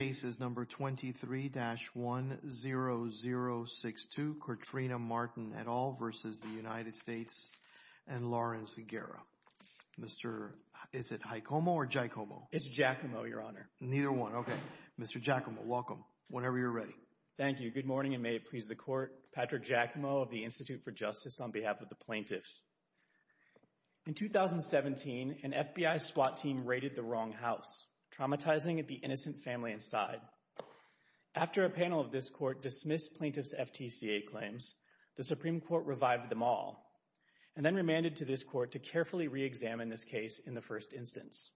cases number 23-10062, Katrina Martin et al. v. United States and Lawrence Aguero. Mr. is it Hicomo or Giacomo? It's Giacomo, your honor. Neither one. Okay. Mr. Giacomo, welcome. Whenever you're ready. Thank you. Good morning and may it please the court. Patrick Giacomo of the Institute for Justice on behalf of the plaintiffs. In 2017, an FBI SWAT team raided the wrong house, traumatizing the innocent family and died. After a panel of this court dismissed plaintiff's FTCA claims, the Supreme Court revived them all and then remanded to this court to carefully reexamine this case in the first instance.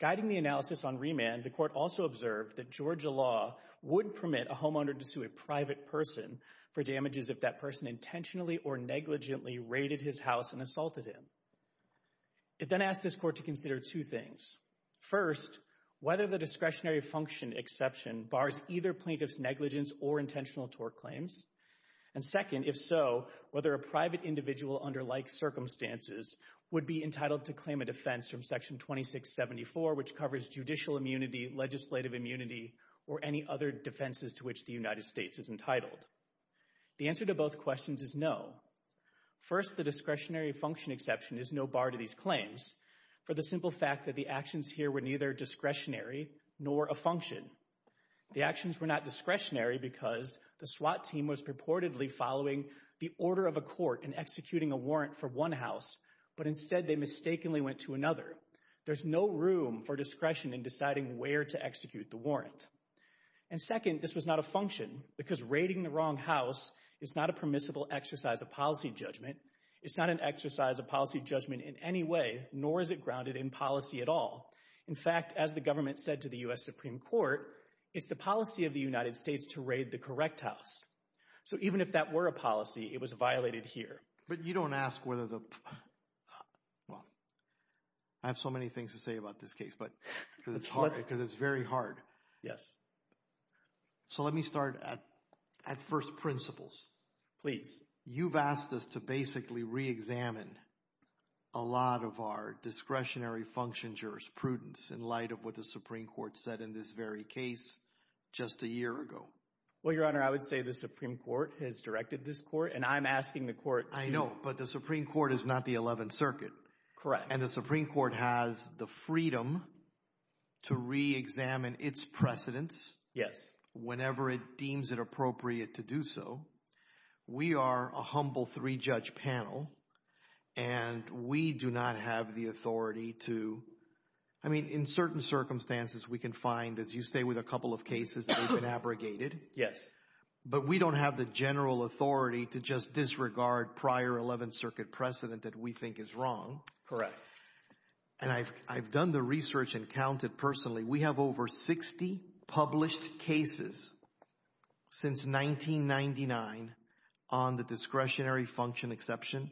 Guiding the analysis on remand, the court also observed that Georgia law would permit a homeowner to sue a private person for damages if that person intentionally or negligently raided his house and assaulted him. It then asked this court to consider two things. First, whether the discretionary function exception bars either plaintiff's negligence or intentional tort claims. And second, if so, whether a private individual under like circumstances would be entitled to claim a defense from section 2674, which covers judicial immunity, legislative immunity, or any other defenses to which the United States is entitled. The answer to both questions is no. First, the discretionary function exception is no bar to these claims for the simple fact that the actions here were neither discretionary nor a function. The actions were not discretionary because the SWAT team was purportedly following the order of a court in executing a warrant for one house, but instead they mistakenly went to another. There's no room for discretion in deciding where to execute the warrant. And second, this was not a function because raiding the wrong house is not a permissible exercise of policy judgment. It's not an exercise of policy judgment in any way, nor is it grounded in policy at all. In fact, as the government said to the U.S. Supreme Court, it's the policy of the United States to raid the correct house. So even if that were a policy, it was violated here. But you don't ask whether the, well, I have so many things to say about this case, but because it's hard, because it's very hard. Yes. So let me start at first principles. Please. You've asked us to basically re-examine a lot of our discretionary function jurisprudence in light of what the Supreme Court said in this very case just a year ago. Well, Your Honor, I would say the Supreme Court has directed this court, and I'm asking the court to— I know, but the Supreme Court is not the Eleventh Circuit. Correct. And the Supreme Court has the freedom to re-examine its precedents— Yes. —whenever it deems it appropriate to do so. We are a humble three-judge panel, and we do not have the authority to—I mean, in certain circumstances, we can find, as you say, with a couple of cases that have been abrogated. Yes. But we don't have the general authority to just disregard prior Eleventh Circuit precedent that we think is wrong. Correct. And I've done the research and counted personally. We have over 60 published cases since 1999 on the discretionary function exception,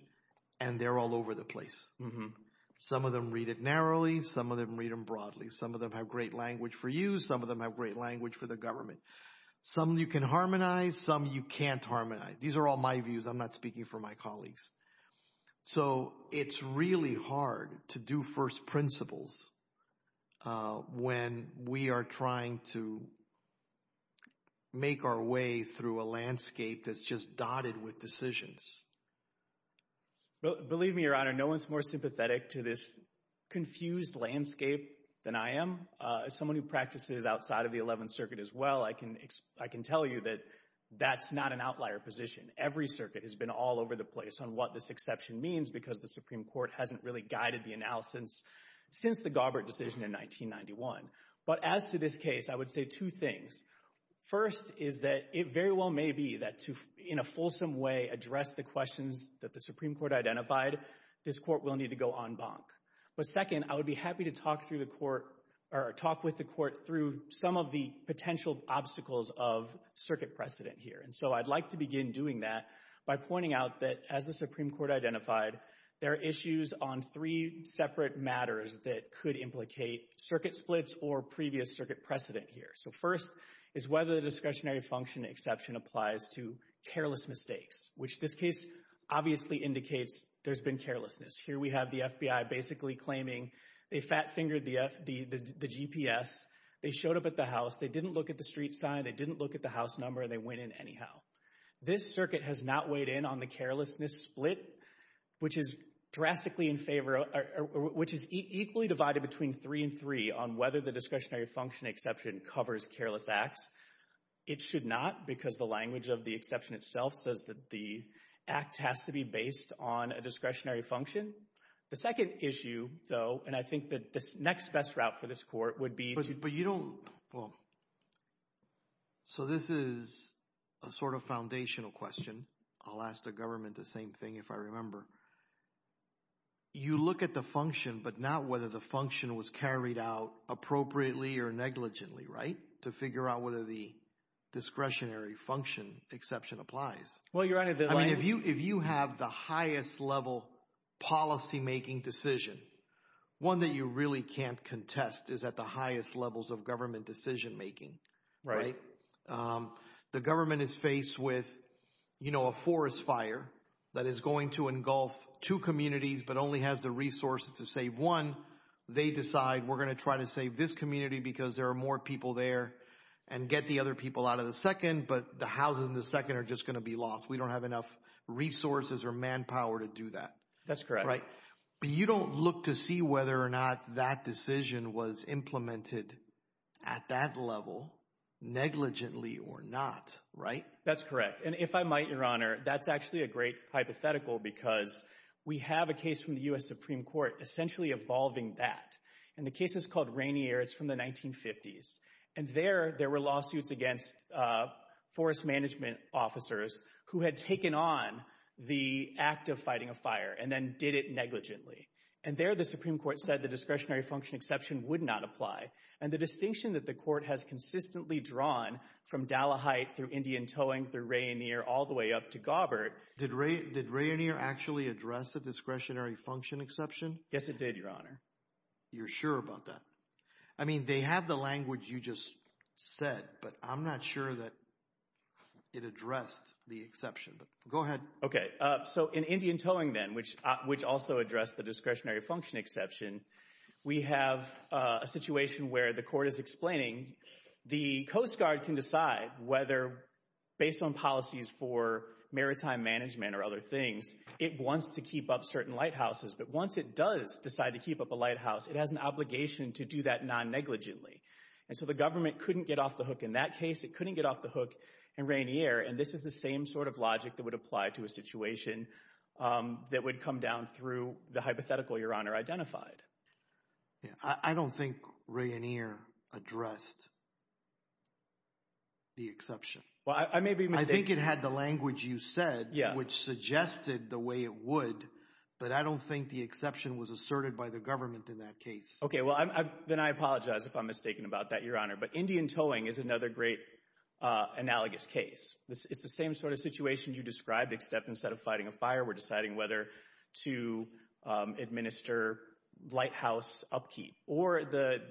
and they're all over the place. Some of them read it narrowly. Some of them read them broadly. Some of them have great language for you. Some of them have great language for the government. Some you can harmonize. Some you can't harmonize. These are all my views. I'm not speaking for my colleagues. So, it's really hard to do first principles when we are trying to make our way through a landscape that's just dotted with decisions. Believe me, Your Honor, no one's more sympathetic to this confused landscape than I am. As someone who practices outside of the Eleventh Circuit as well, I can tell you that that's not an outlier position. Every circuit has been all over the place on what this exception means because the Supreme Court hasn't really guided the analysis since the Gaubert decision in 1991. But as to this case, I would say two things. First is that it very well may be that to, in a fulsome way, address the questions that the Supreme Court identified, this Court will need to go en banc. But second, I would be happy to talk with the Court through some of the potential obstacles of circuit precedent here. And so, I'd like to begin doing that by pointing out that, as the Supreme Court identified, there are issues on three separate matters that could implicate circuit splits or previous circuit precedent here. So first is whether the discretionary function exception applies to careless mistakes, which this case obviously indicates there's been carelessness. Here we have the FBI basically claiming they fat-fingered the GPS, they showed up at the house, they didn't look at the street sign, they didn't look at the house number, and they went in anyhow. This circuit has not weighed in on the carelessness split, which is drastically in favor, which is equally divided between three and three on whether the discretionary function exception covers careless acts. It should not, because the language of the exception itself says that the act has to be based on a discretionary function. The second issue, though, and I think that the next best route for this Court would be But you don't, well, so this is a sort of foundational question, I'll ask the government the same thing if I remember. You look at the function, but not whether the function was carried out appropriately or negligently, right? To figure out whether the discretionary function exception applies. Well, Your Honor, I mean, if you have the highest level policymaking decision, one that you really can't contest is at the highest levels of government decisionmaking, right? The government is faced with, you know, a forest fire that is going to engulf two communities but only has the resources to save one. They decide, we're going to try to save this community because there are more people there and get the other people out of the second, but the houses in the second are just going to be lost. We don't have enough resources or manpower to do that. That's correct. Right. But you don't look to see whether or not that decision was implemented at that level, negligently or not, right? That's correct. And if I might, Your Honor, that's actually a great hypothetical because we have a case from the U.S. Supreme Court essentially evolving that. And the case is called Rainier, it's from the 1950s. And there, there were lawsuits against forest management officers who had taken on the act of fighting a fire and then did it negligently. And there, the Supreme Court said the discretionary function exception would not apply. And the distinction that the court has consistently drawn from Dallaheit through Indian Towing through Rainier all the way up to Gawbert. Did Rainier actually address the discretionary function exception? Yes, it did, Your Honor. You're sure about that? I mean, they have the language you just said, but I'm not sure that it addressed the exception. Go ahead. Okay, so in Indian Towing then, which also addressed the discretionary function exception, we have a situation where the court is explaining the Coast Guard can decide whether, based on policies for maritime management or other things, it wants to keep up certain lighthouses. But once it does decide to keep up a lighthouse, it has an obligation to do that non-negligently. And so the government couldn't get off the hook in that case. It couldn't get off the hook in Rainier. And this is the same sort of logic that would apply to a situation that would come down through the hypothetical, Your Honor, identified. I don't think Rainier addressed the exception. Well, I may be mistaken. I think it had the language you said, which suggested the way it would, but I don't think the exception was asserted by the government in that case. Okay, well, then I apologize if I'm mistaken about that, Your Honor. But Indian Towing is another great analogous case. It's the same sort of situation you described, except instead of fighting a fire, we're deciding whether to administer lighthouse upkeep. Or the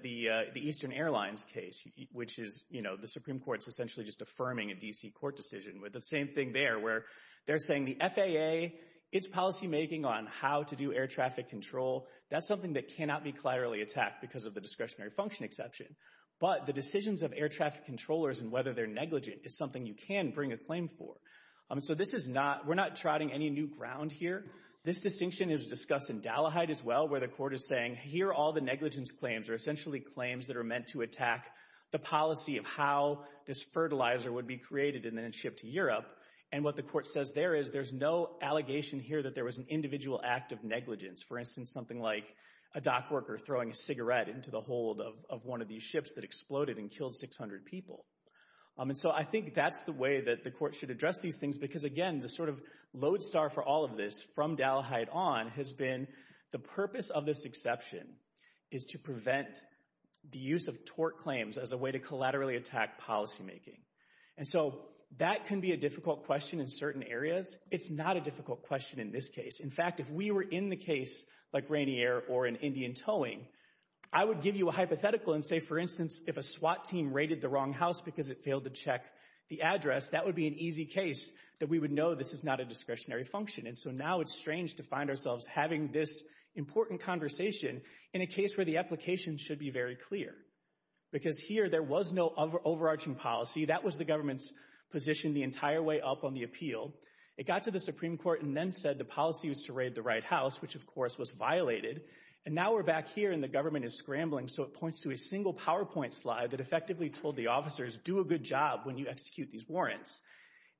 Eastern Airlines case, which is, you know, the Supreme Court's essentially just affirming a D.C. court decision with the same thing there, where they're saying the FAA, its policymaking on how to do air traffic control, that's something that cannot be of the discretionary function exception. But the decisions of air traffic controllers and whether they're negligent is something you can bring a claim for. So this is not, we're not trotting any new ground here. This distinction is discussed in Dalaheid as well, where the court is saying, here are all the negligence claims, or essentially claims that are meant to attack the policy of how this fertilizer would be created and then shipped to Europe. And what the court says there is, there's no allegation here that there was an individual act of negligence. For instance, something like a dock worker throwing a cigarette into the hold of one of these ships that exploded and killed 600 people. And so I think that's the way that the court should address these things, because again, the sort of lodestar for all of this, from Dalaheid on, has been the purpose of this exception is to prevent the use of tort claims as a way to collaterally attack policymaking. And so that can be a difficult question in certain areas. It's not a difficult question in this case. In fact, if we were in the case like Rainier or in Indian Towing, I would give you a hypothetical and say, for instance, if a SWAT team raided the wrong house because it failed to check the address, that would be an easy case that we would know this is not a discretionary function. And so now it's strange to find ourselves having this important conversation in a case where the application should be very clear. Because here, there was no overarching policy. That was the government's position the entire way up on the appeal. It got to the Supreme Court and then said the policy was to raid the right house, which of course was violated. And now we're back here and the government is scrambling. So it points to a single PowerPoint slide that effectively told the officers, do a good job when you execute these warrants.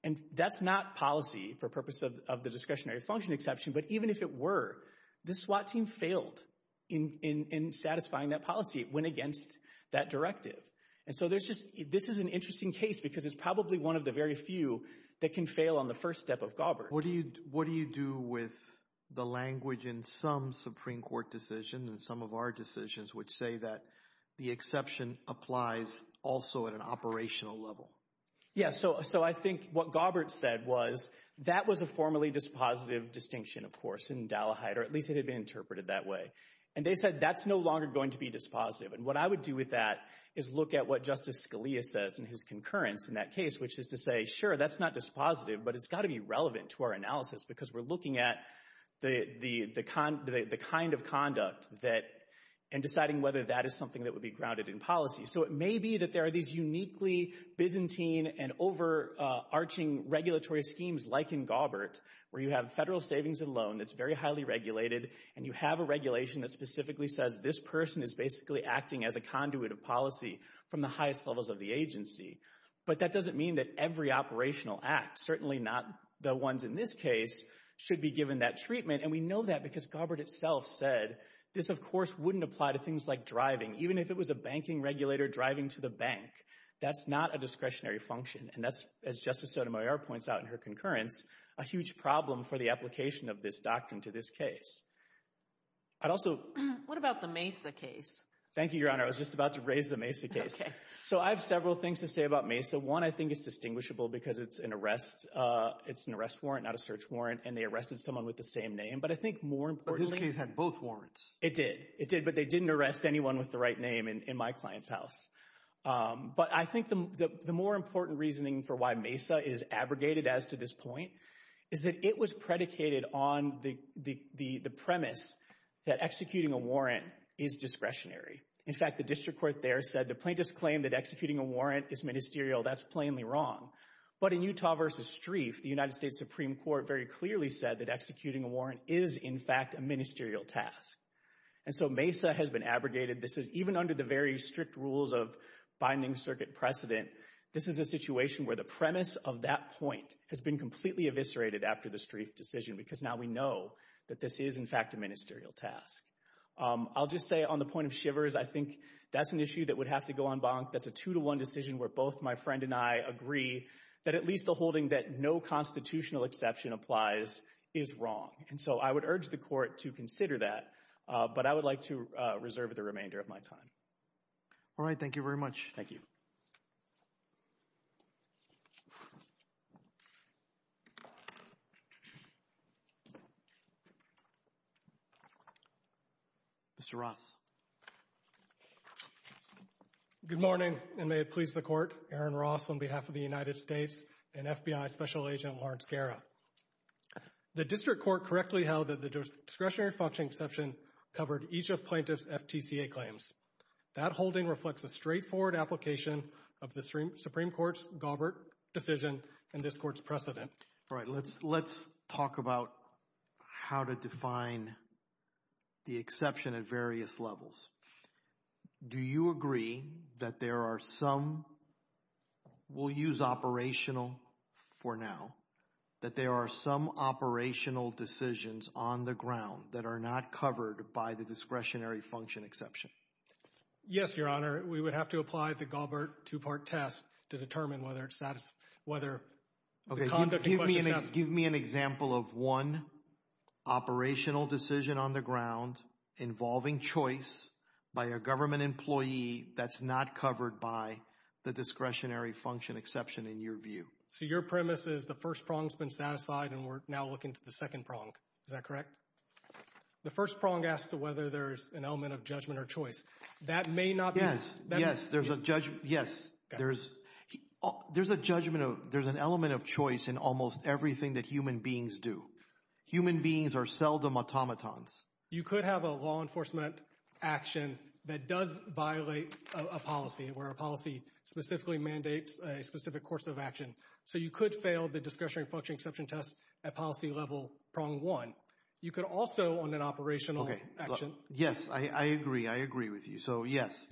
And that's not policy for purpose of the discretionary function exception. But even if it were, this SWAT team failed in satisfying that policy. It went against that directive. And so there's just, this is an interesting case because it's probably one of the very few that can fail on the first step of Gaubert. What do you do with the language in some Supreme Court decisions and some of our decisions which say that the exception applies also at an operational level? Yeah, so I think what Gaubert said was, that was a formally dispositive distinction, of course, in Dalleheit, or at least it had been interpreted that way. And they said that's no longer going to be dispositive. And what I would do with that is look at what Justice Scalia says in his concurrence in that case, which is to say, sure, that's not dispositive, but it's got to be relevant to our analysis because we're looking at the kind of conduct that, and deciding whether that is something that would be grounded in policy. So it may be that there are these uniquely Byzantine and overarching regulatory schemes like in Gaubert, where you have federal savings and loan that's very highly regulated, and you have a regulation that specifically says this person is basically acting as a conduit of policy from the highest levels of the agency. But that doesn't mean that every operational act, certainly not the ones in this case, should be given that treatment. And we know that because Gaubert itself said this, of course, wouldn't apply to things like driving. Even if it was a banking regulator driving to the bank, that's not a discretionary function. And that's, as Justice Sotomayor points out in her concurrence, a huge problem for the application of this doctrine to this case. I'd also... What about the Mesa case? Thank you, Your Honor. I was just about to raise the Mesa case. Okay. So I have several things to say about Mesa. One, I think it's distinguishable because it's an arrest warrant, not a search warrant, and they arrested someone with the same name. But I think more importantly... But this case had both warrants. It did. It did, but they didn't arrest anyone with the right name in my client's house. But I think the more important reasoning for why Mesa is abrogated as to this point is that it was predicated on the premise that executing a warrant is discretionary. In fact, the district court there said the plaintiff's claim that executing a warrant is ministerial, that's plainly wrong. But in Utah v. Strieff, the United States Supreme Court very clearly said that executing a warrant is, in fact, a ministerial task. And so Mesa has been abrogated. This is... Even under the very strict rules of binding circuit precedent, this is a situation where the premise of that point has been completely eviscerated after the Strieff decision because now we know that this is, in fact, a ministerial task. I'll just say on the point of shivers, I think that's an issue that would have to go en banc. That's a two-to-one decision where both my friend and I agree that at least the holding that no constitutional exception applies is wrong. And so I would urge the court to consider that, but I would like to reserve the remainder of my time. All right. Thank you very much. Thank you. Mr. Ross. Good morning, and may it please the court. Aaron Ross on behalf of the United States and FBI Special Agent Lawrence Guerra. The district court correctly held that the discretionary function exception covered each of plaintiff's FTCA claims. That holding reflects a straightforward application of the Supreme Court's Galbert decision and this court's precedent. All right. Let's talk about how to define the exception at various levels. Do you agree that there are some, we'll use operational for now, that there are some operational decisions on the ground that are not covered by the discretionary function exception? Yes, Your Honor. We would have to apply the Galbert two-part test to determine whether it's, whether the conduct in question is satisfactory. Okay. Give me an example of one operational decision on the ground involving choice by a government employee that's not covered by the discretionary function exception in your view. So your premise is the first prong's been satisfied and we're now looking to the second prong. Is that correct? The first prong asks whether there's an element of judgment or choice. That may not be. Yes. There's a judgment. Yes. There's a judgment. There's an element of choice in almost everything that human beings do. Human beings are seldom automatons. You could have a law enforcement action that does violate a policy where a policy specifically mandates a specific course of action. So you could fail the discretionary function exception test at policy level prong one. You could also on an operational action. Yes. I agree. I agree with you. So yes.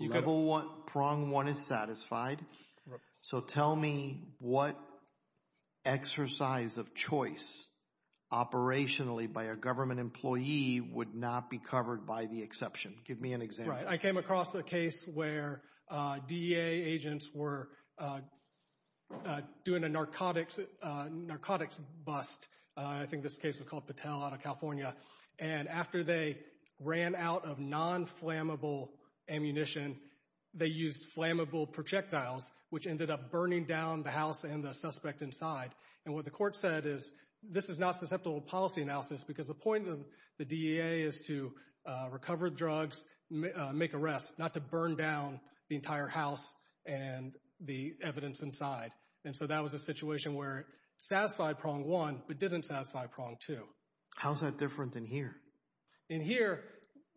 Level one, prong one is satisfied. So tell me what exercise of choice operationally by a government employee would not be covered by the exception. Give me an example. Right. I came across a case where DEA agents were doing a narcotics bust. I think this case was called Patel out of California. And after they ran out of non-flammable ammunition, they used flammable projectiles, which ended up burning down the house and the suspect inside. And what the court said is this is not susceptible to policy analysis because the point of the DEA is to recover drugs, make arrests, not to burn down the entire house and the evidence inside. And so that was a situation where it satisfied prong one, but didn't satisfy prong two. How's that different than here? In here,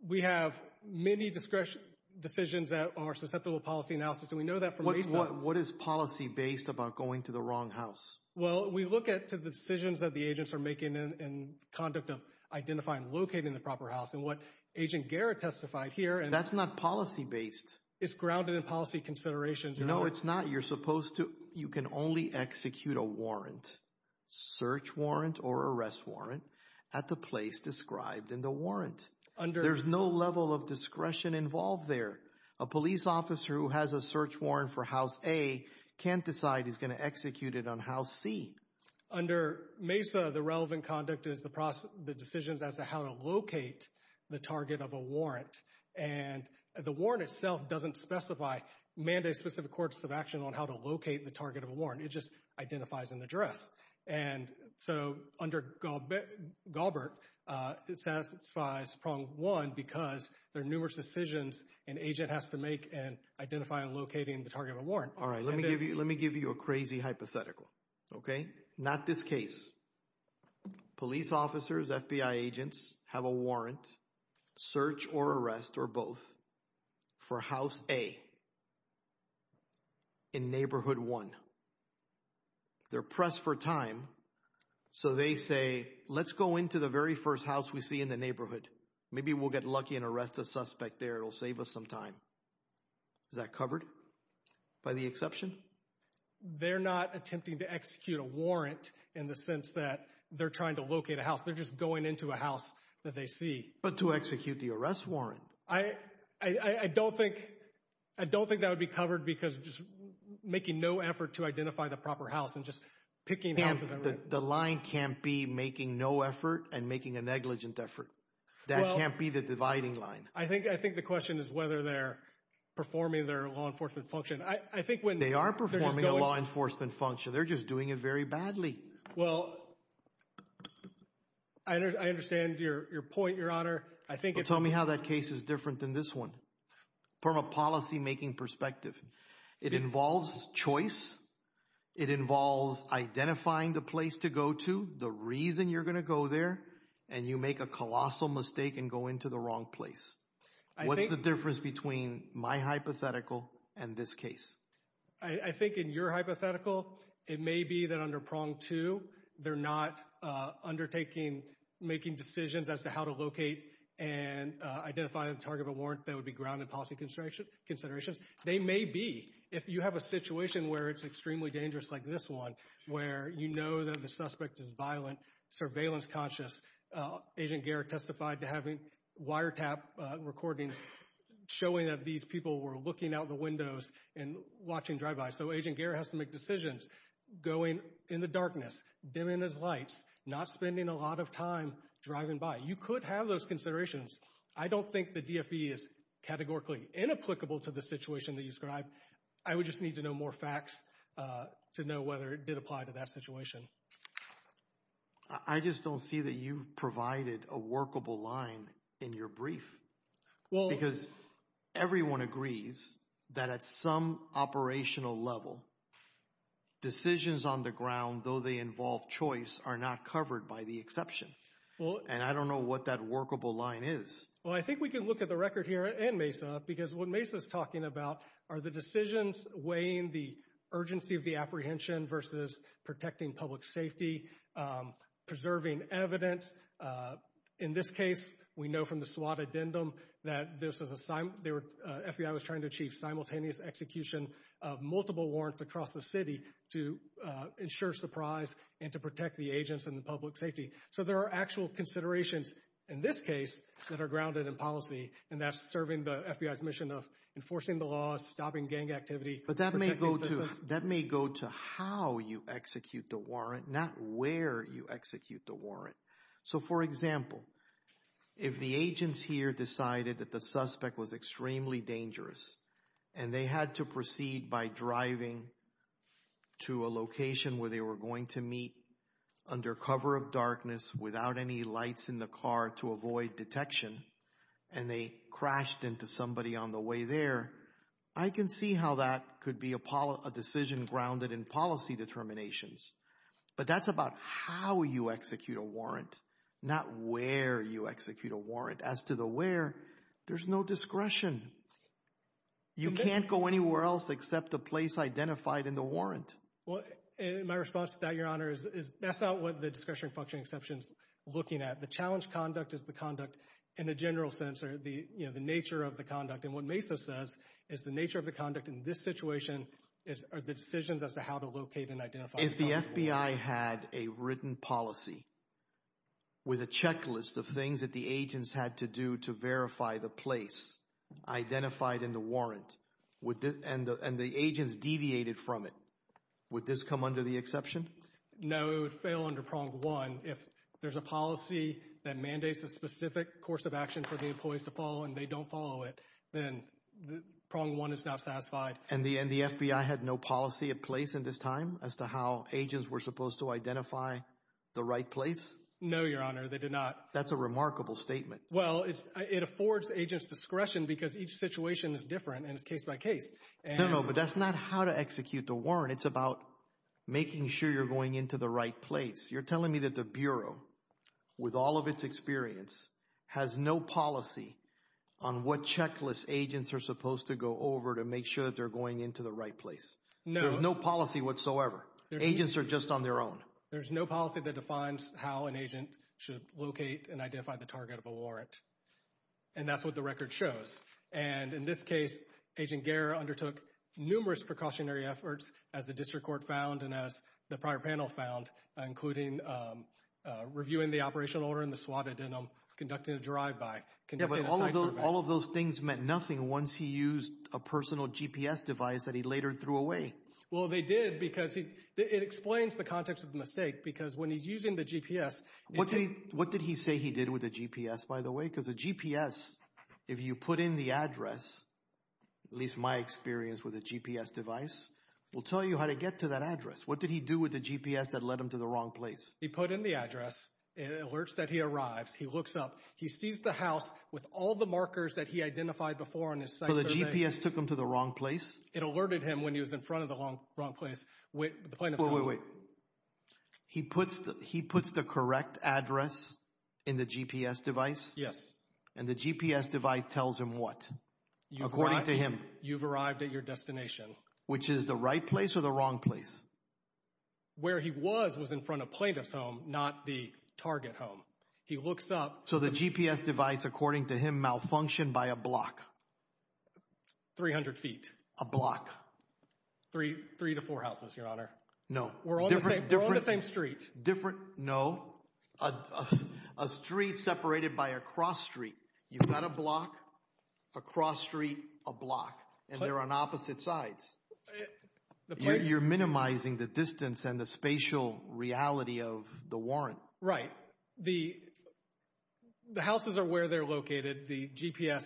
we have many discretion decisions that are susceptible to policy analysis. And we know that from what is policy based about going to the wrong house. Well, we look at the decisions that the agents are making in conduct of identifying, locating the proper house and what Agent Garrett testified here. That's not policy based. It's grounded in policy considerations. No, it's not. You're supposed to, you can only execute a warrant, search warrant or arrest warrant at the place described in the warrant. There's no level of discretion involved there. A police officer who has a search warrant for house A can't decide he's going to execute it on house C. Under MESA, the relevant conduct is the decisions as to how to locate the target of a warrant. And the warrant itself doesn't specify, mandate specific courts of action on how to locate the target of a warrant. It just identifies an address. And so under Galbert, it satisfies prong one because there are numerous decisions an agent has to make in identifying and locating the target of a warrant. All right. Let me give you a crazy hypothetical, okay? Not this case. Police officers, FBI agents have a warrant, search or arrest or both for house A in neighborhood one. They're pressed for time. So they say, let's go into the very first house we see in the neighborhood. Maybe we'll get lucky and arrest the suspect there. It'll save us some time. Is that covered by the exception? I mean, they're not attempting to execute a warrant in the sense that they're trying to locate a house. They're just going into a house that they see. But to execute the arrest warrant? I don't think that would be covered because just making no effort to identify the proper house and just picking houses. The line can't be making no effort and making a negligent effort. That can't be the dividing line. I think the question is whether they're performing their law enforcement function. They are performing a law enforcement function. They're just doing it very badly. Well, I understand your point, your honor. Tell me how that case is different than this one from a policymaking perspective. It involves choice. It involves identifying the place to go to, the reason you're going to go there, and you make a colossal mistake and go into the wrong place. What's the difference between my hypothetical and this case? I think in your hypothetical, it may be that under prong two, they're not undertaking making decisions as to how to locate and identify the target of a warrant that would be grounded policy considerations. They may be. If you have a situation where it's extremely dangerous like this one, where you know that the suspect is violent, surveillance conscious, Agent Garrett testified to having wiretap recordings showing that these people were looking out the windows and watching drive-bys. So Agent Garrett has to make decisions going in the darkness, dimming his lights, not spending a lot of time driving by. You could have those considerations. I don't think the DFE is categorically inapplicable to the situation that you described. I would just need to know more facts to know whether it did apply to that situation. I just don't see that you've provided a workable line in your brief, because everyone agrees that at some operational level, decisions on the ground, though they involve choice, are not covered by the exception. And I don't know what that workable line is. Well, I think we can look at the record here and Mesa, because what Mesa is talking about are the decisions weighing the urgency of the apprehension versus protecting public safety, preserving evidence. In this case, we know from the SWAT addendum that FBI was trying to achieve simultaneous execution of multiple warrants across the city to ensure surprise and to protect the agents and the public safety. So there are actual considerations in this case that are grounded in policy, and that's serving the FBI's mission of enforcing the law, stopping gang activity. But that may go to how you execute the warrant, not where you execute the warrant. So for example, if the agents here decided that the suspect was extremely dangerous, and they had to proceed by driving to a location where they were going to meet under cover of darkness without any lights in the car to avoid detection, and they crashed into somebody on the way there, I can see how that could be a decision grounded in policy determinations. But that's about how you execute a warrant, not where you execute a warrant. As to the where, there's no discretion. You can't go anywhere else except the place identified in the warrant. Well, my response to that, Your Honor, is that's not what the discretionary functioning exception is looking at. The challenge conduct is the conduct in a general sense, or the nature of the conduct. And what Mesa says is the nature of the conduct in this situation are the decisions as to how to locate and identify the suspect. If the FBI had a written policy with a checklist of things that the agents had to do to verify the place identified in the warrant, and the agents deviated from it, would this come under the exception? No, it would fail under prong one. If there's a policy that mandates a specific course of action for the employees to follow and they don't follow it, then prong one is not satisfied. And the FBI had no policy in place in this time as to how agents were supposed to identify the right place? No, Your Honor, they did not. That's a remarkable statement. Well, it affords agents discretion because each situation is different and it's case by case. No, no, but that's not how to execute the warrant. It's about making sure you're going into the right place. You're telling me that the Bureau, with all of its experience, has no policy on what checklist agents are supposed to go over to make sure that they're going into the right place? No. There's no policy whatsoever? Agents are just on their own? There's no policy that defines how an agent should locate and identify the target of a warrant. And that's what the record shows. And in this case, Agent Guerra undertook numerous precautionary efforts, as the district court found and as the prior panel found, including reviewing the operational order in the SWAT addendum, conducting a drive-by, conducting a site survey. But all of those things meant nothing once he used a personal GPS device that he later threw away. Well, they did because it explains the context of the mistake. Because when he's using the GPS... What did he say he did with the GPS, by the way? Because the GPS, if you put in the address, at least my experience with a GPS device, will tell you how to get to that address. What did he do with the GPS that led him to the wrong place? He put in the address, it alerts that he arrives, he looks up, he sees the house with all the markers that he identified before on his site survey. But the GPS took him to the wrong place? It alerted him when he was in front of the wrong place. Wait, wait, wait. He puts the correct address in the GPS device? Yes. And the GPS device tells him what? According to him? You've arrived at your destination. Which is the right place or the wrong place? Where he was, was in front of plaintiff's home, not the target home. He looks up... So the GPS device, according to him, malfunctioned by a block? 300 feet. A block? Three to four houses, your honor. We're on the same street. Different... No. A street separated by a cross street. You've got a block, a cross street, a block, and they're on opposite sides. You're minimizing the distance and the spatial reality of the warrant. Right. The houses are where they're located. The GPS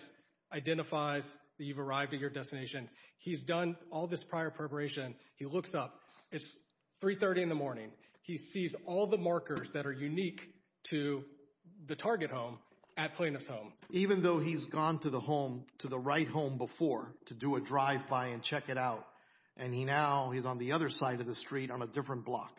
identifies that you've arrived at your destination. He's done all this prior preparation. He looks up. It's 3.30 in the morning. He sees all the markers that are unique to the target home at plaintiff's home. Even though he's gone to the home, to the right home before, to do a drive-by and check it out, and he now, he's on the other side of the street on a different block.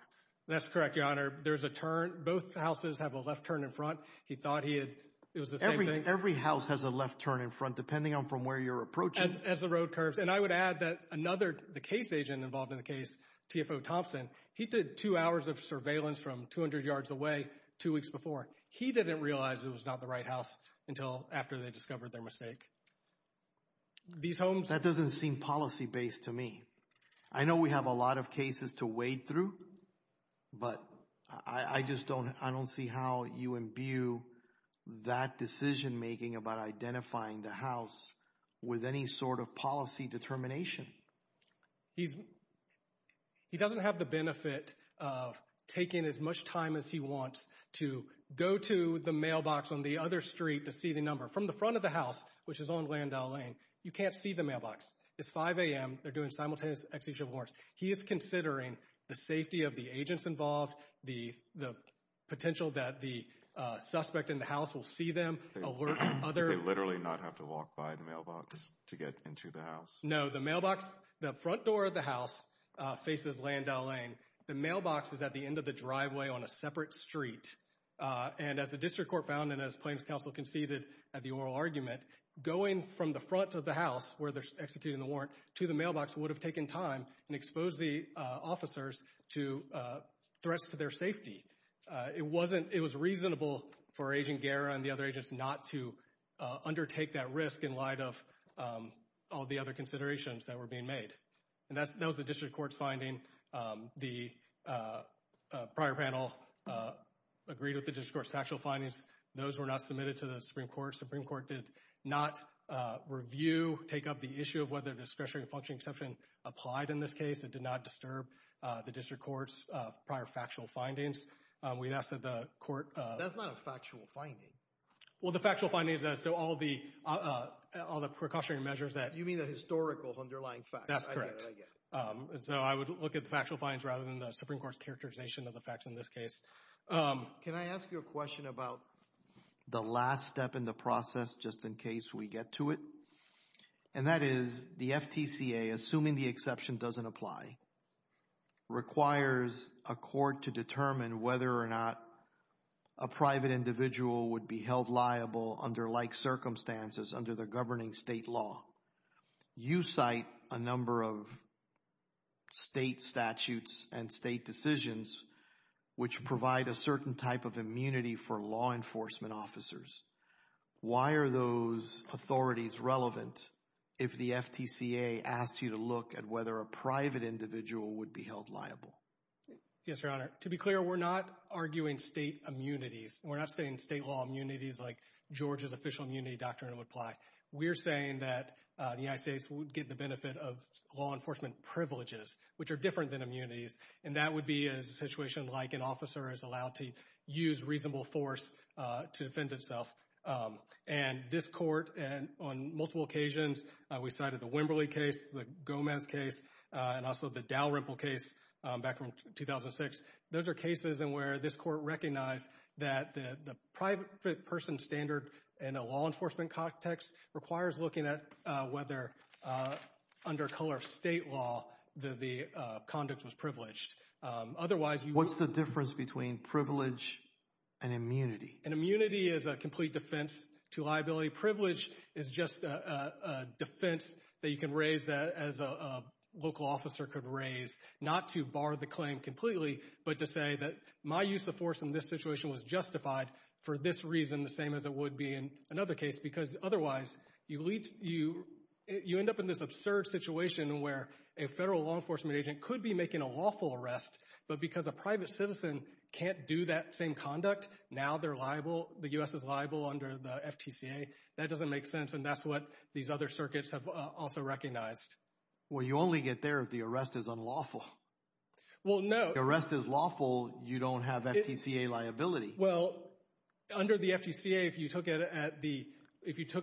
That's correct, your honor. There's a turn. Both houses have a left turn in front. He thought he had... It was the same thing? Every house has a left turn in front, depending on from where you're approaching. As the road curves. I would add that another, the case agent involved in the case, TFO Thompson, he did two hours of surveillance from 200 yards away two weeks before. He didn't realize it was not the right house until after they discovered their mistake. These homes... That doesn't seem policy-based to me. I know we have a lot of cases to wade through, but I just don't see how you imbue that decision making about identifying the house with any sort of policy determination. He doesn't have the benefit of taking as much time as he wants to go to the mailbox on the other street to see the number from the front of the house, which is on Glendale Lane. You can't see the mailbox. It's 5 a.m. They're doing simultaneous execution warrants. He is considering the safety of the agents involved, the potential that the suspect in the house will see them, alert other... They literally not have to walk by the mailbox to get into the house? No. The mailbox, the front door of the house faces Glendale Lane. The mailbox is at the end of the driveway on a separate street. And as the district court found and as Plains Council conceded at the oral argument, going from the front of the house where they're executing the warrant to the mailbox would have taken time and exposed the officers to threats to their safety. It wasn't... It was reasonable for Agent Guerra and the other agents not to undertake that risk in light of all the other considerations that were being made. And that was the district court's finding. The prior panel agreed with the district court's factual findings. Those were not submitted to the Supreme Court. Supreme Court did not review, take up the issue of whether discretionary function exception applied in this case. It did not disturb the district court's prior factual findings. We asked that the court... That's not a factual finding. Well, the factual findings as to all the precautionary measures that... You mean the historical underlying facts. That's correct. I get it. I get it. And so I would look at the factual findings rather than the Supreme Court's characterization of the facts in this case. Can I ask you a question about the last step in the process just in case we get to it? And that is the FTCA, assuming the exception doesn't apply, requires a court to determine whether or not a private individual would be held liable under like circumstances under the governing state law. You cite a number of state statutes and state decisions which provide a certain type of immunity for law enforcement officers. Why are those authorities relevant if the FTCA asks you to look at whether a private individual would be held liable? Yes, Your Honor. To be clear, we're not arguing state immunities. We're not saying state law immunities like Georgia's official immunity doctrine would apply. We're saying that the United States would get the benefit of law enforcement privileges, which are different than immunities. And that would be a situation like an officer is allowed to use reasonable force to defend himself. And this court, on multiple occasions, we cited the Wimberley case, the Gomez case, and also the Dalrymple case back in 2006. Those are cases in where this court recognized that the private person standard in a law enforcement context requires looking at whether, under color of state law, the conduct was privileged. Otherwise... What's the difference between privilege and immunity? An immunity is a complete defense to liability. Privilege is just a defense that you can raise as a local officer could raise, not to bar the claim completely, but to say that my use of force in this situation was justified for this reason, the same as it would be in another case. Because otherwise, you end up in this absurd situation where a federal law enforcement agent could be making a lawful arrest, but because a private citizen can't do that same conduct, now they're liable, the U.S. is liable under the FTCA. That doesn't make sense, and that's what these other circuits have also recognized. Well you only get there if the arrest is unlawful. Well no... If the arrest is lawful, you don't have FTCA liability. Well, under the FTCA, if you took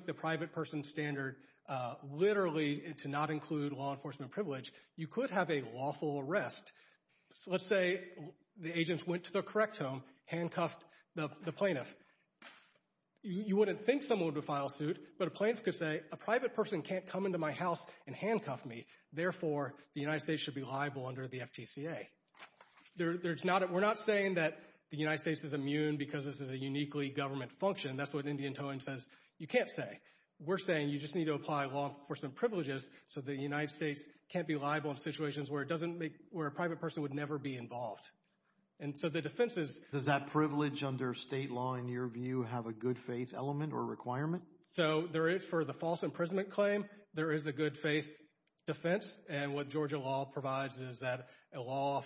the private person standard literally to not include law enforcement privilege, you could have a lawful arrest. So let's say the agents went to the correct home, handcuffed the plaintiff. You wouldn't think someone would file suit, but a plaintiff could say, a private person can't come into my house and handcuff me, therefore the United States should be liable under the FTCA. We're not saying that the United States is immune because this is a uniquely government function. That's what Indian Towing says you can't say. We're saying you just need to apply law enforcement privileges so the United States can't be liable in situations where a private person would never be involved. And so the defense is... Does that privilege under state law, in your view, have a good faith element or requirement? So for the false imprisonment claim, there is a good faith defense, and what Georgia law provides is that a law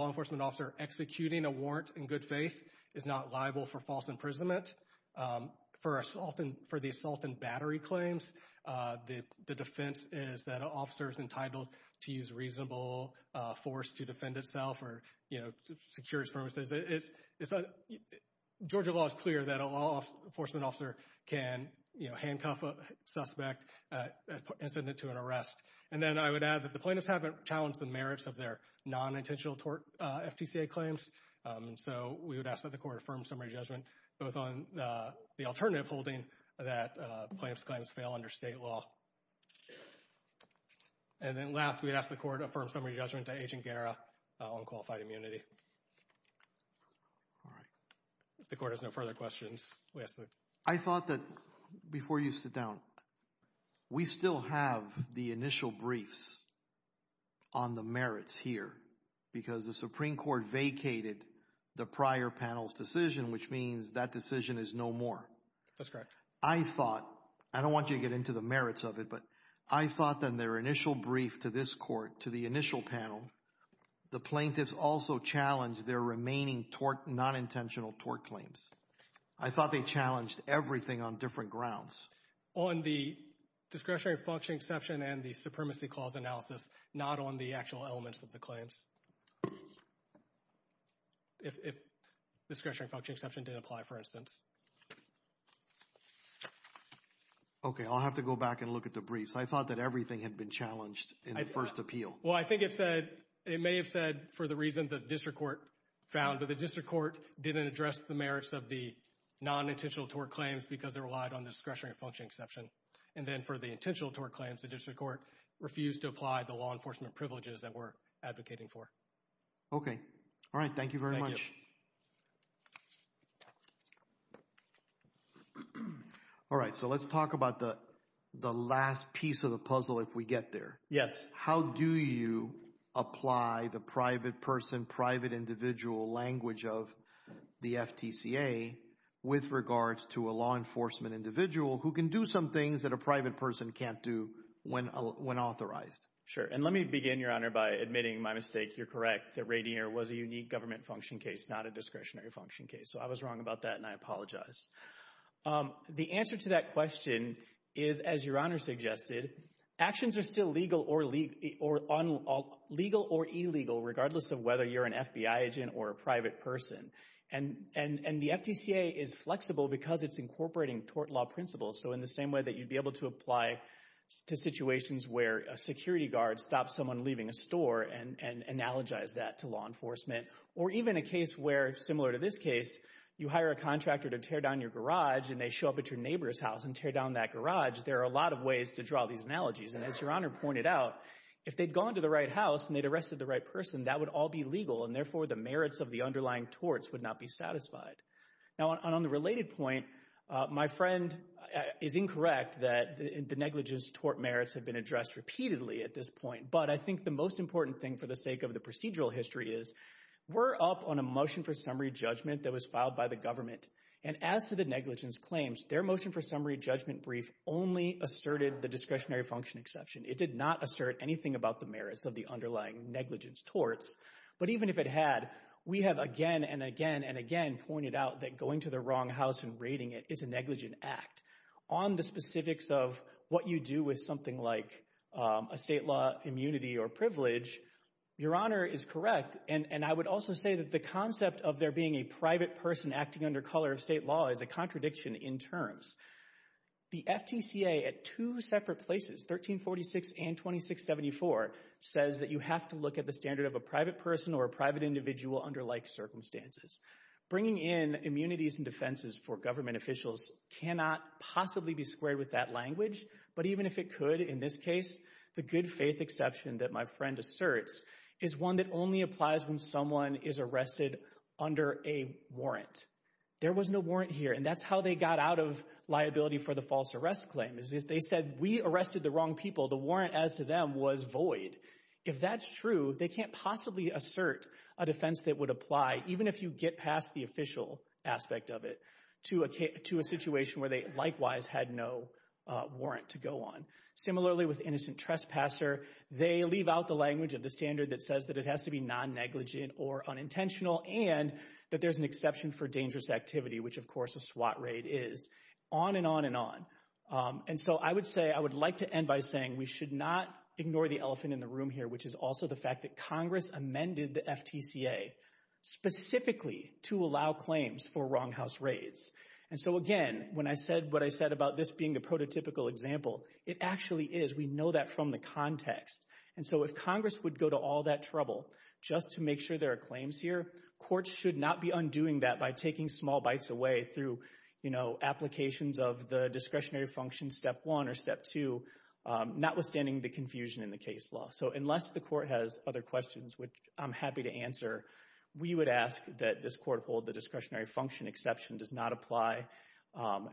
enforcement officer executing a warrant in good faith is not liable for false imprisonment. For the assault and battery claims, the defense is that an officer is entitled to use reasonable force to defend itself or secure his premises. Georgia law is clear that a law enforcement officer can handcuff a suspect and send it to an arrest. And then I would add that the plaintiffs haven't challenged the merits of their non-intentional tort FTCA claims. And so we would ask that the court affirm summary judgment both on the alternative holding that plaintiff's claims fail under state law. And then last, we'd ask the court to affirm summary judgment to Agent Guerra on qualified immunity. All right. If the court has no further questions, we ask that... I thought that before you sit down, we still have the initial briefs on the merits here because the Supreme Court vacated the prior panel's decision, which means that decision is no more. That's correct. I thought, I don't want you to get into the merits of it, but I thought that in their initial brief to this court, to the initial panel, the plaintiffs also challenged their remaining tort, non-intentional tort claims. I thought they challenged everything on different grounds. On the discretionary function exception and the supremacy clause analysis, not on the actual elements of the claims, if discretionary function exception didn't apply, for instance. Okay, I'll have to go back and look at the briefs. I thought that everything had been challenged in the first appeal. Well, I think it said, it may have said for the reason that district court found, but the district court didn't address the merits of the non-intentional tort claims because they relied on the discretionary function exception. And then for the intentional tort claims, the district court refused to apply the law enforcement privileges that we're advocating for. Okay. All right. Thank you very much. Thank you. All right, so let's talk about the last piece of the puzzle if we get there. Yes. How do you apply the private person, private individual language of the FTCA with regards to a law enforcement individual who can do some things that a private person can't do when authorized? Sure. And let me begin, Your Honor, by admitting my mistake. You're correct that Rainier was a unique government function case, not a discretionary function case. So I was wrong about that and I apologize. The answer to that question is, as Your Honor suggested, actions are still legal or illegal regardless of whether you're an FBI agent or a private person. And the FTCA is flexible because it's incorporating tort law principles. So in the same way that you'd be able to apply to situations where a security guard stops someone leaving a store and analogize that to law enforcement or even a case where, similar to this case, you hire a contractor to tear down your garage and they show up at your neighbor's house and tear down that garage, there are a lot of ways to draw these analogies. And as Your Honor pointed out, if they'd gone to the right house and they'd arrested the right person, that would all be legal and therefore the merits of the underlying torts would not be satisfied. Now on the related point, my friend is incorrect that the negligence tort merits have been addressed repeatedly at this point. But I think the most important thing for the sake of the procedural history is we're up on a motion for summary judgment that was filed by the government. And as to the negligence claims, their motion for summary judgment brief only asserted the discretionary function exception. It did not assert anything about the merits of the underlying negligence torts. But even if it had, we have again and again and again pointed out that going to the wrong house and raiding it is a negligent act. On the specifics of what you do with something like a state law immunity or privilege, Your Honor is correct. And I would also say that the concept of there being a private person acting under color of state law is a contradiction in terms. The FTCA at two separate places, 1346 and 2674, says that you have to look at the standard of a private person or a private individual under like circumstances. Bringing in immunities and defenses for government officials cannot possibly be squared with that language. But even if it could, in this case, the good faith exception that my friend asserts is one that only applies when someone is arrested under a warrant. There was no warrant here. And that's how they got out of liability for the false arrest claim is they said we arrested the wrong people. The warrant as to them was void. If that's true, they can't possibly assert a defense that would apply even if you get past the official aspect of it to a to a situation where they likewise had no warrant to go on. Similarly, with innocent trespasser, they leave out the language of the standard that says that it has to be non-negligent or unintentional and that there's an exception for dangerous activity, which, of course, a SWAT raid is on and on and on. And so I would say I would like to end by saying we should not ignore the elephant in the room here, which is also the fact that Congress amended the FTCA specifically to allow claims for wronghouse raids. And so, again, when I said what I said about this being a prototypical example, it actually is. We know that from the context. And so if Congress would go to all that trouble just to make sure there are claims here, courts should not be undoing that by taking small bites away through, you know, applications of the discretionary function, step one or step two, notwithstanding the confusion in the case law. So unless the court has other questions, which I'm happy to answer, we would ask that this court hold the discretionary function exception does not apply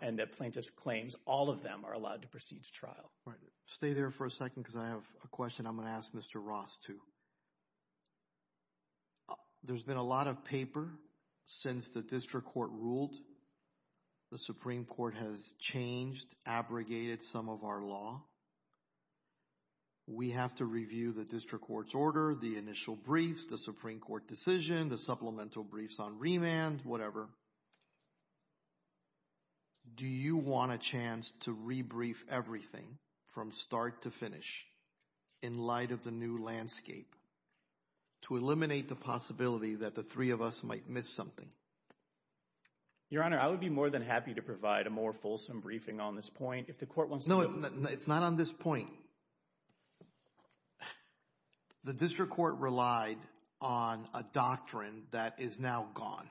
and that plaintiff's claims, all of them, are allowed to proceed to trial. Right. Stay there for a second because I have a question I'm going to ask Mr. Ross, too. There's been a lot of paper since the district court ruled. The Supreme Court has changed, abrogated some of our law. We have to review the district court's order, the initial briefs, the Supreme Court decision, the supplemental briefs on remand, whatever. Do you want a chance to rebrief everything from start to finish in light of the new landscape to eliminate the possibility that the three of us might miss something? Your Honor, I would be more than happy to provide a more fulsome briefing on this point if the court wants to. It's not on this point. The district court relied on a doctrine that is now gone,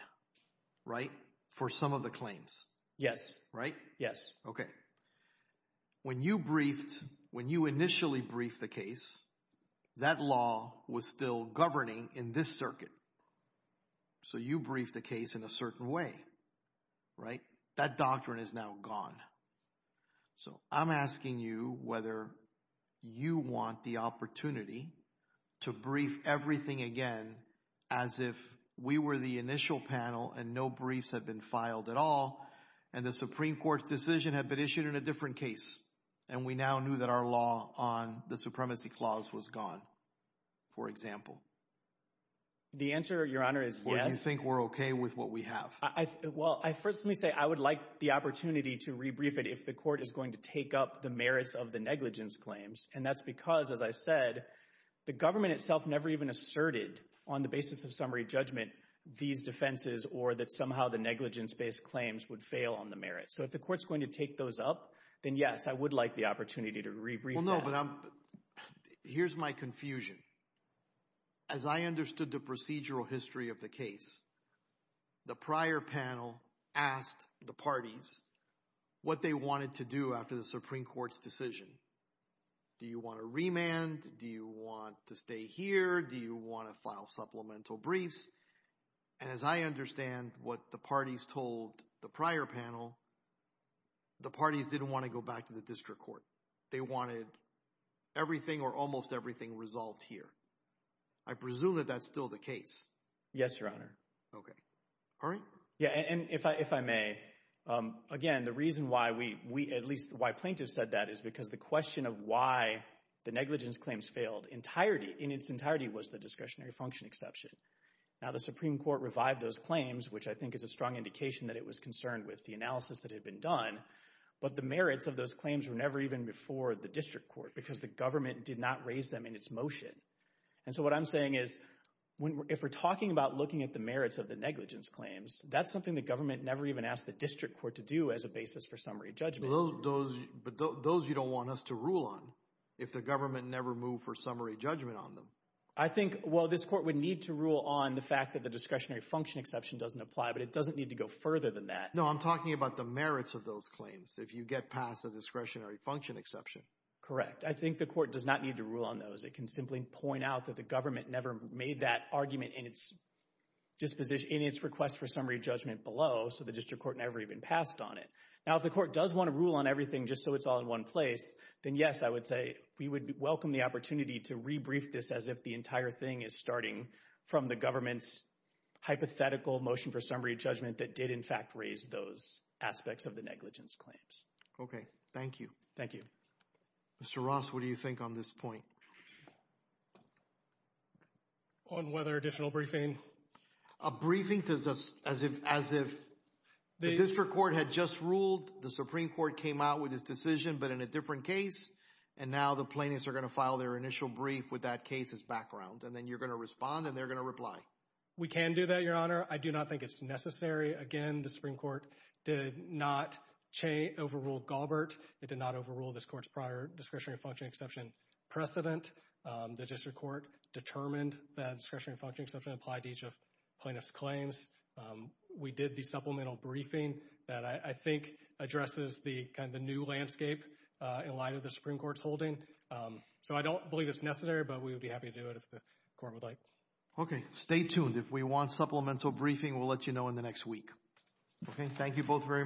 right? For some of the claims. Yes. Right? Yes. Okay. When you briefed, when you initially briefed the case, that law was still governing in this circuit. So you briefed the case in a certain way, right? That doctrine is now gone. So, I'm asking you whether you want the opportunity to brief everything again as if we were the initial panel and no briefs have been filed at all and the Supreme Court's decision had been issued in a different case and we now knew that our law on the supremacy clause was gone, for example. The answer, Your Honor, is yes. Or do you think we're okay with what we have? Well, I firstly say I would like the opportunity to rebrief it if the court is going to take up the merits of the negligence claims. And that's because, as I said, the government itself never even asserted on the basis of summary judgment these defenses or that somehow the negligence-based claims would fail on the merits. So if the court's going to take those up, then yes, I would like the opportunity to rebrief that. Well, no, but I'm, here's my confusion. As I understood the procedural history of the case, the prior panel asked the parties what they wanted to do after the Supreme Court's decision. Do you want to remand? Do you want to stay here? Do you want to file supplemental briefs? And as I understand what the parties told the prior panel, the parties didn't want to go back to the district court. They wanted everything or almost everything resolved here. I presume that that's still the case. Yes, Your Honor. Okay. Yeah, and if I may, again, the reason why we, at least why plaintiffs said that is because the question of why the negligence claims failed in its entirety was the discretionary function exception. Now, the Supreme Court revived those claims, which I think is a strong indication that it was concerned with the analysis that had been done, but the merits of those claims were never even before the district court because the government did not raise them in its motion. And so what I'm saying is, if we're talking about looking at the merits of the negligence claims, that's something the government never even asked the district court to do as a basis for summary judgment. But those you don't want us to rule on if the government never moved for summary judgment on them. I think, well, this court would need to rule on the fact that the discretionary function exception doesn't apply, but it doesn't need to go further than that. No, I'm talking about the merits of those claims if you get past the discretionary function exception. Correct. I think the court does not need to rule on those. It can simply point out that the government never made that argument in its request for summary judgment below, so the district court never even passed on it. Now, if the court does want to rule on everything just so it's all in one place, then yes, I would say we would welcome the opportunity to rebrief this as if the entire thing is starting from the government's hypothetical motion for summary judgment that did, in fact, raise those aspects of the negligence claims. Okay. Thank you. Thank you. Mr. Ross, what do you think on this point? On whether additional briefing? A briefing as if the district court had just ruled, the Supreme Court came out with this decision but in a different case, and now the plaintiffs are going to file their initial brief with that case's background, and then you're going to respond and they're going to reply. We can do that, Your Honor. I do not think it's necessary. Again, the Supreme Court did not overrule Galbert, it did not overrule this court's prior discretionary function exception precedent. The district court determined that discretionary function exception applied to each of plaintiff's claims. We did the supplemental briefing that I think addresses the kind of new landscape in light of the Supreme Court's holding, so I don't believe it's necessary, but we would be happy to do it if the court would like. Okay. Stay tuned. If we want supplemental briefing, we'll let you know in the next week. Okay. Thank you both very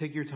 much.